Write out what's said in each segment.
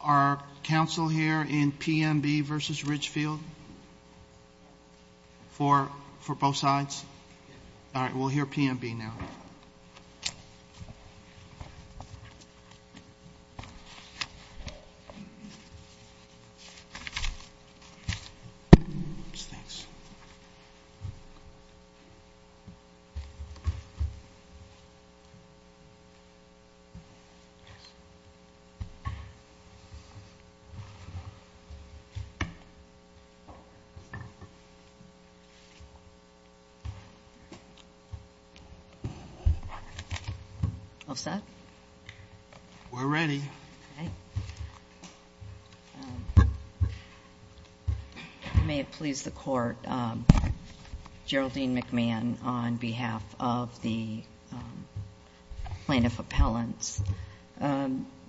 Our council here in PMB v. Ridgefield? For both sides? All right, we'll hear PMB now. All set? We're ready. Okay. May it please the Court, Geraldine McMahon on behalf of the Plaintiff Appellants.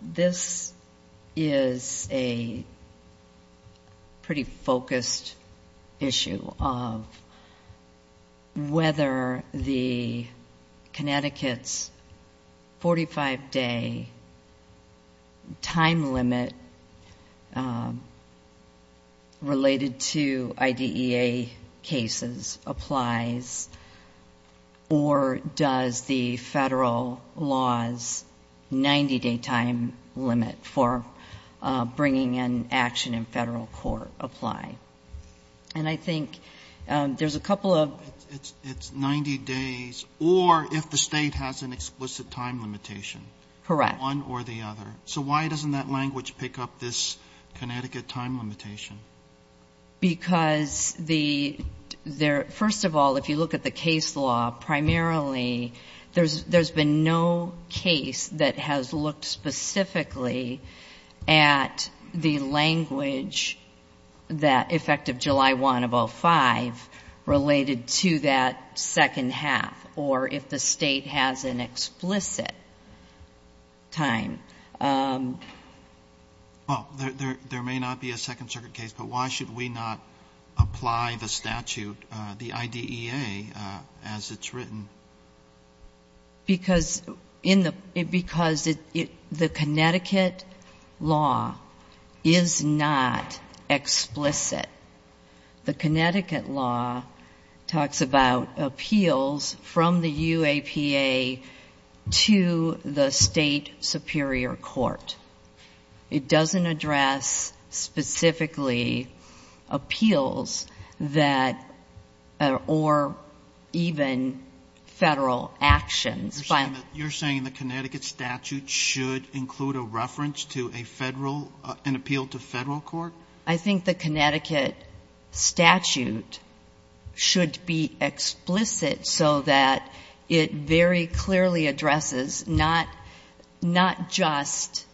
This is a pretty focused issue of whether the Connecticut's 45-day time limit related to IDEA cases applies or does the federal law's 90-day time limit for bringing an action in federal court apply? And I think there's a couple of... It's 90 days or if the state has an explicit time limitation. Correct. One or the other. So why doesn't that language pick up this Connecticut time limitation? Because first of all, if you look at the case law primarily, there's been no case that has looked specifically at the language that effective July 1 of 05 related to that second half or if the state has an explicit time. Well, there may not be a Second Circuit case, but why should we not apply the statute, the IDEA, as it's written? Because the Connecticut law is not explicit. The Connecticut law talks about appeals from the UAPA to the state superior court. It doesn't address specifically appeals or even federal actions. You're saying the Connecticut statute should include a reference to an appeal to federal court? I think the Connecticut statute should be explicit so that it very clearly addresses not just,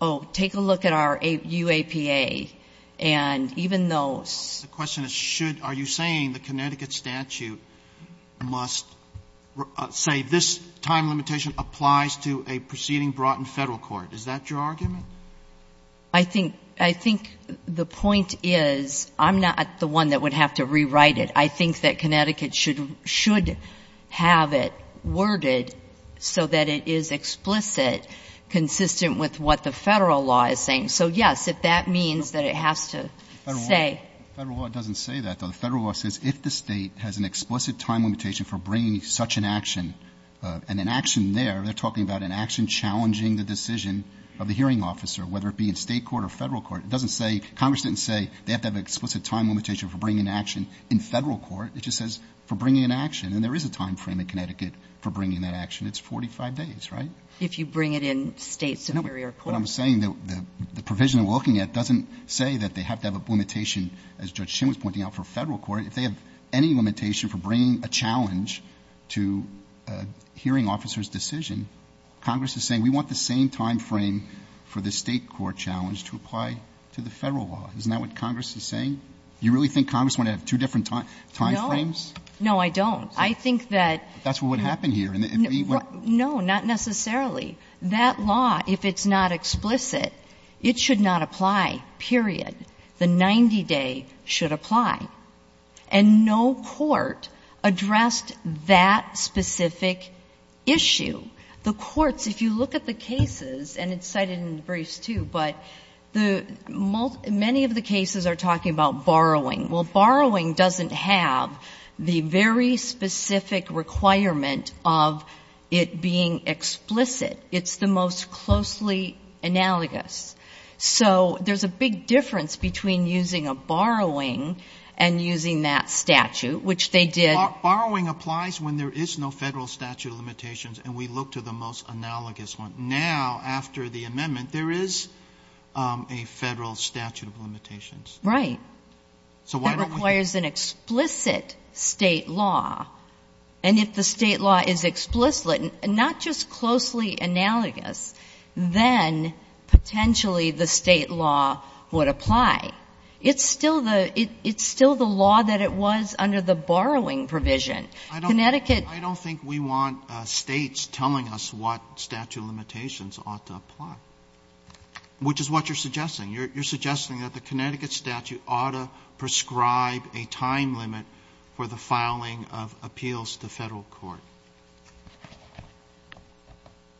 oh, take a look at our UAPA and even though... The question is should. Are you saying the Connecticut statute must say this time limitation applies to a proceeding brought in federal court? Is that your argument? I think the point is I'm not the one that would have to rewrite it. I think that Connecticut should have it worded so that it is explicit, consistent with what the federal law is saying. So, yes, if that means that it has to say... Federal law doesn't say that, though. The federal law says if the state has an explicit time limitation for bringing such an action, and an action there, they're talking about an action challenging the decision of the hearing officer, whether it be in state court or federal court. It doesn't say... Congress didn't say they have to have an explicit time limitation for bringing an action in federal court. It just says for bringing an action, and there is a time frame in Connecticut for bringing that action. It's 45 days, right? If you bring it in state superior court. What I'm saying, the provision we're looking at doesn't say that they have to have a limitation, as Judge Shim was pointing out, for federal court. If they have any limitation for bringing a challenge to a hearing officer's decision, Congress is saying we want the same time frame for the state court challenge to apply to the federal law. Isn't that what Congress is saying? You really think Congress wanted to have two different time frames? No. No, I don't. I think that... That's what would happen here. No, not necessarily. That law, if it's not explicit, it should not apply, period. The 90-day should apply. And no court addressed that specific issue. The courts, if you look at the cases, and it's cited in the briefs, too, but the many of the cases are talking about borrowing. Well, borrowing doesn't have the very specific requirement of it being explicit. It's the most closely analogous. So there's a big difference between using a borrowing and using that statute, which they did. Borrowing applies when there is no federal statute of limitations, and we look to the most analogous one. Now, after the amendment, there is a federal statute of limitations. Right. That requires an explicit state law. And if the state law is explicit, not just closely analogous, then potentially the state law would apply. It's still the law that it was under the borrowing provision. Connecticut... I don't think we want States telling us what statute of limitations ought to apply. Which is what you're suggesting. You're suggesting that the Connecticut statute ought to prescribe a time limit for the filing of appeals to Federal court.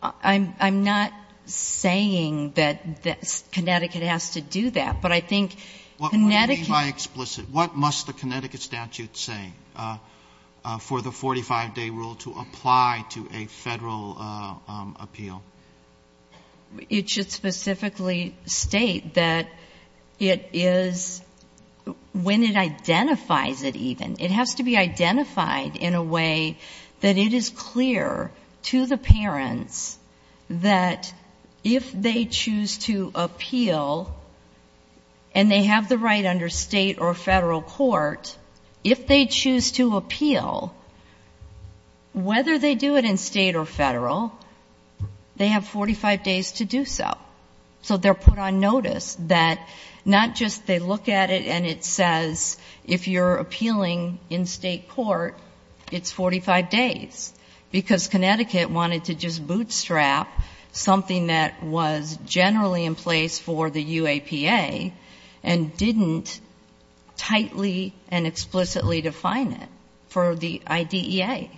I'm not saying that Connecticut has to do that. But I think Connecticut... What do you mean by explicit? What must the Connecticut statute say for the 45-day rule to apply to a Federal appeal? It should specifically state that it is, when it identifies it even, it has to be identified in a way that it is clear to the parents that if they choose to appeal and they have the right under State or Federal court, if they choose to appeal, whether they do it in State or Federal, they have 45 days to do so. So they're put on notice that not just they look at it and it says, if you're in State court, it's 45 days. Because Connecticut wanted to just bootstrap something that was generally in place for the UAPA and didn't tightly and explicitly define it for the IDEA.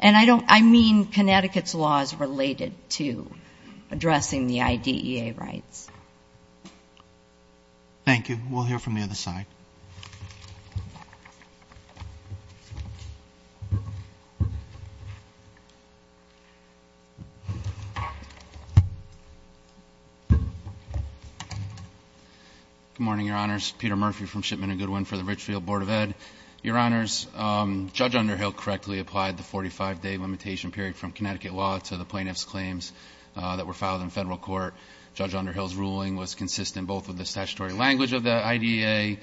And I don't... I mean Connecticut's law is related to addressing the IDEA rights. Thank you. We'll hear from the other side. Good morning, Your Honors. Peter Murphy from Shipman and Goodwin for the Richfield Board of Ed. Your Honors, Judge Underhill correctly applied the 45-day limitation period from Connecticut law to the plaintiff's claims that were filed in Federal court. Judge Underhill's ruling was consistent both with the statutory language of the IDEA,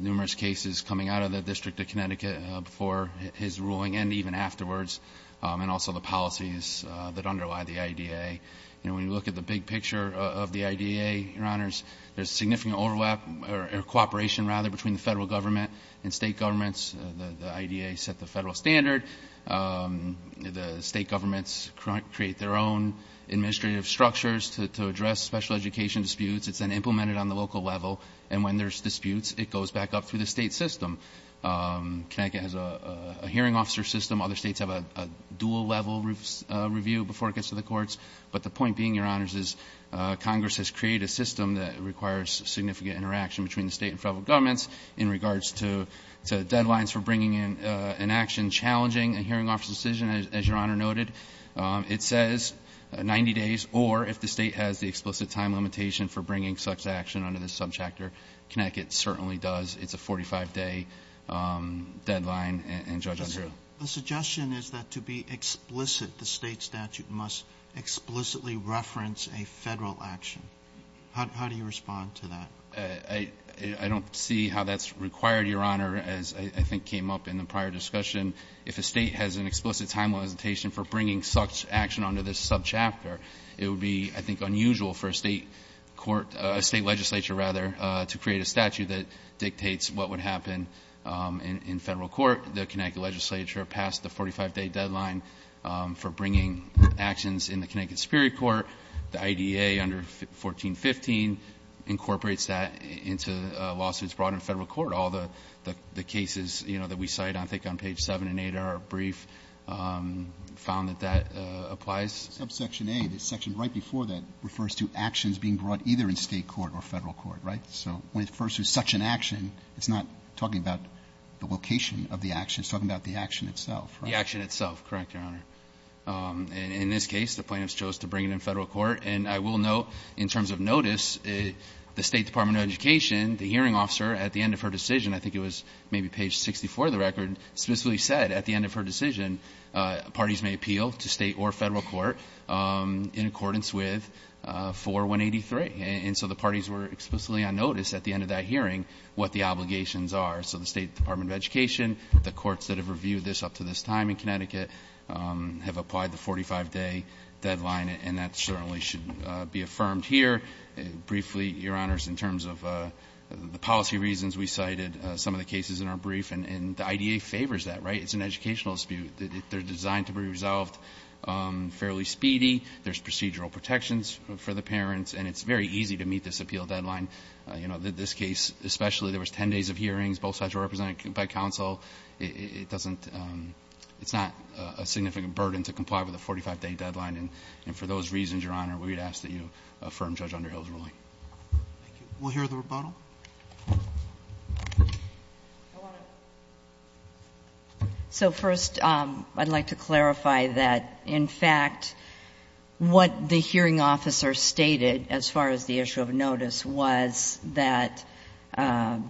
numerous cases coming out of the District of Connecticut before his ruling, and even afterwards, and also the policies that underlie the IDEA. You know, when you look at the big picture of the IDEA, Your Honors, there's significant overlap or cooperation, rather, between the Federal government and State governments. The IDEA set the Federal standard. The State governments create their own administrative structures to address special education disputes. It's then implemented on the local level, and when there's disputes, it goes back up through the State system. Connecticut has a hearing officer system. Other States have a dual-level review before it gets to the courts. But the point being, Your Honors, is Congress has created a system that requires significant interaction between the State and Federal governments in regards to deadlines for bringing in an action challenging a hearing officer's decision. As Your Honor noted, it says 90 days, or if the State has the explicit time limitation for bringing such action under this subchapter, Connecticut certainly does. It's a 45-day deadline, and Judge Underhill. The suggestion is that to be explicit, the State statute must explicitly reference a Federal action. How do you respond to that? I don't see how that's required, Your Honor, as I think came up in the prior discussion. If a State has an explicit time limitation for bringing such action under this subchapter, it would be, I think, unusual for a State legislature to create a statute that dictates what would happen in Federal court. The Connecticut legislature passed the 45-day deadline for bringing actions in the Connecticut Superior Court. The IDEA under 1415 incorporates that into lawsuits brought in Federal court. All the cases that we cite, I think, on page 7 and 8 of our brief found that that applies. Subsection A, the section right before that, refers to actions being brought either in State court or Federal court, right? So when it refers to such an action, it's not talking about the location of the action. It's talking about the action itself, right? The action itself, correct, Your Honor. In this case, the plaintiffs chose to bring it in Federal court. And I will note, in terms of notice, the State Department of Education, the hearing officer, at the end of her decision, I think it was maybe page 64 of the record, specifically said at the end of her decision, parties may appeal to State or Federal court in accordance with 4183. And so the parties were explicitly on notice at the end of that hearing what the obligations are. So the State Department of Education, the courts that have reviewed this up to this time in Connecticut, have applied the 45-day deadline, and that certainly should be affirmed here. Briefly, Your Honors, in terms of the policy reasons, we cited some of the cases in our brief, and the IDEA favors that, right? It's an educational dispute. They're designed to be resolved fairly speedy. There's procedural protections for the parents, and it's very easy to meet this appeal deadline. You know, this case especially, there was 10 days of hearings. Both sides were represented by counsel. It doesn't – it's not a significant burden to comply with a 45-day deadline. And for those reasons, Your Honor, we would ask that you affirm Judge Underhill's ruling. Thank you. We'll hear the rebuttal. I want to – so first, I'd like to clarify that, in fact, what the hearing officer stated, as far as the issue of notice, was that the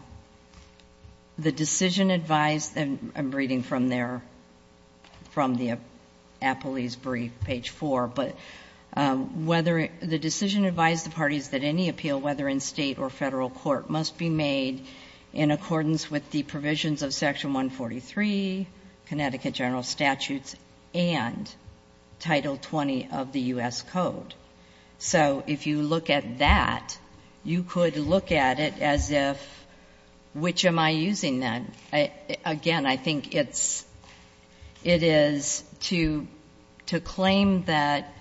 decision advised – I'm reading from their – from the appellee's brief, page 4 – but whether – the decision advised the parties that any appeal, whether in state or federal court, must be made in accordance with the provisions of Section 143, Connecticut General Statutes, and Title 20 of the U.S. Code. So if you look at that, you could look at it as if, which am I using then? Again, I think it's – it is to claim that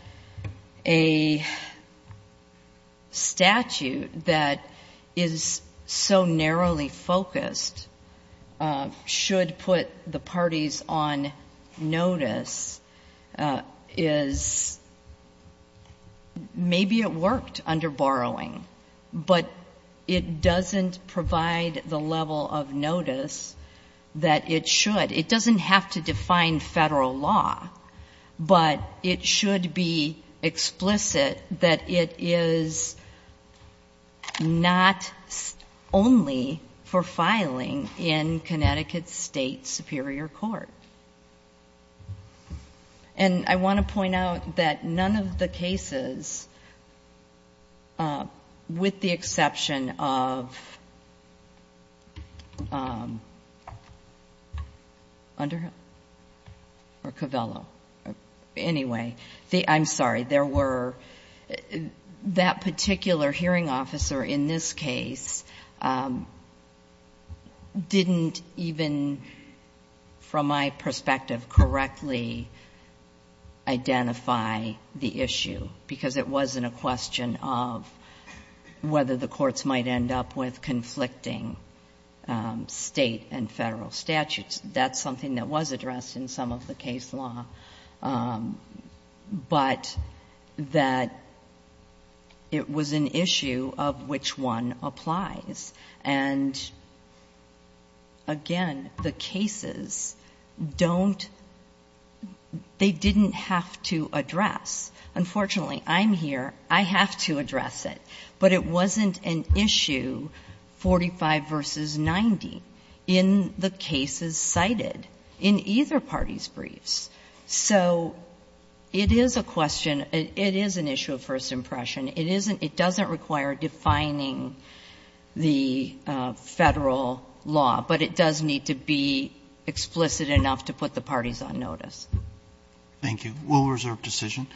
a statute that is so narrowly focused should put the parties on notice is – maybe it worked under borrowing, but it doesn't provide the level of notice that it should. It doesn't have to define federal law, but it should be explicit that it is not only for filing in Connecticut State Superior Court. And I want to point out that none of the cases, with the exception of Underhill or Covello – anyway, I'm sorry. There were – that particular hearing officer in this case didn't even, from my perspective, correctly identify the issue, because it wasn't a question of whether the courts might end up with conflicting state and federal statutes. That's something that was addressed in some of the case law. But that it was an issue of which one applies. And again, the cases don't – they didn't have to address. Unfortunately, I'm here. I have to address it. But it wasn't an issue, 45 versus 90, in the cases cited in either party's briefs. So it is a question – it is an issue of first impression. It isn't – it doesn't require defining the federal law, but it does need to be explicit enough to put the parties on notice. Roberts. Thank you. Will reserve decision.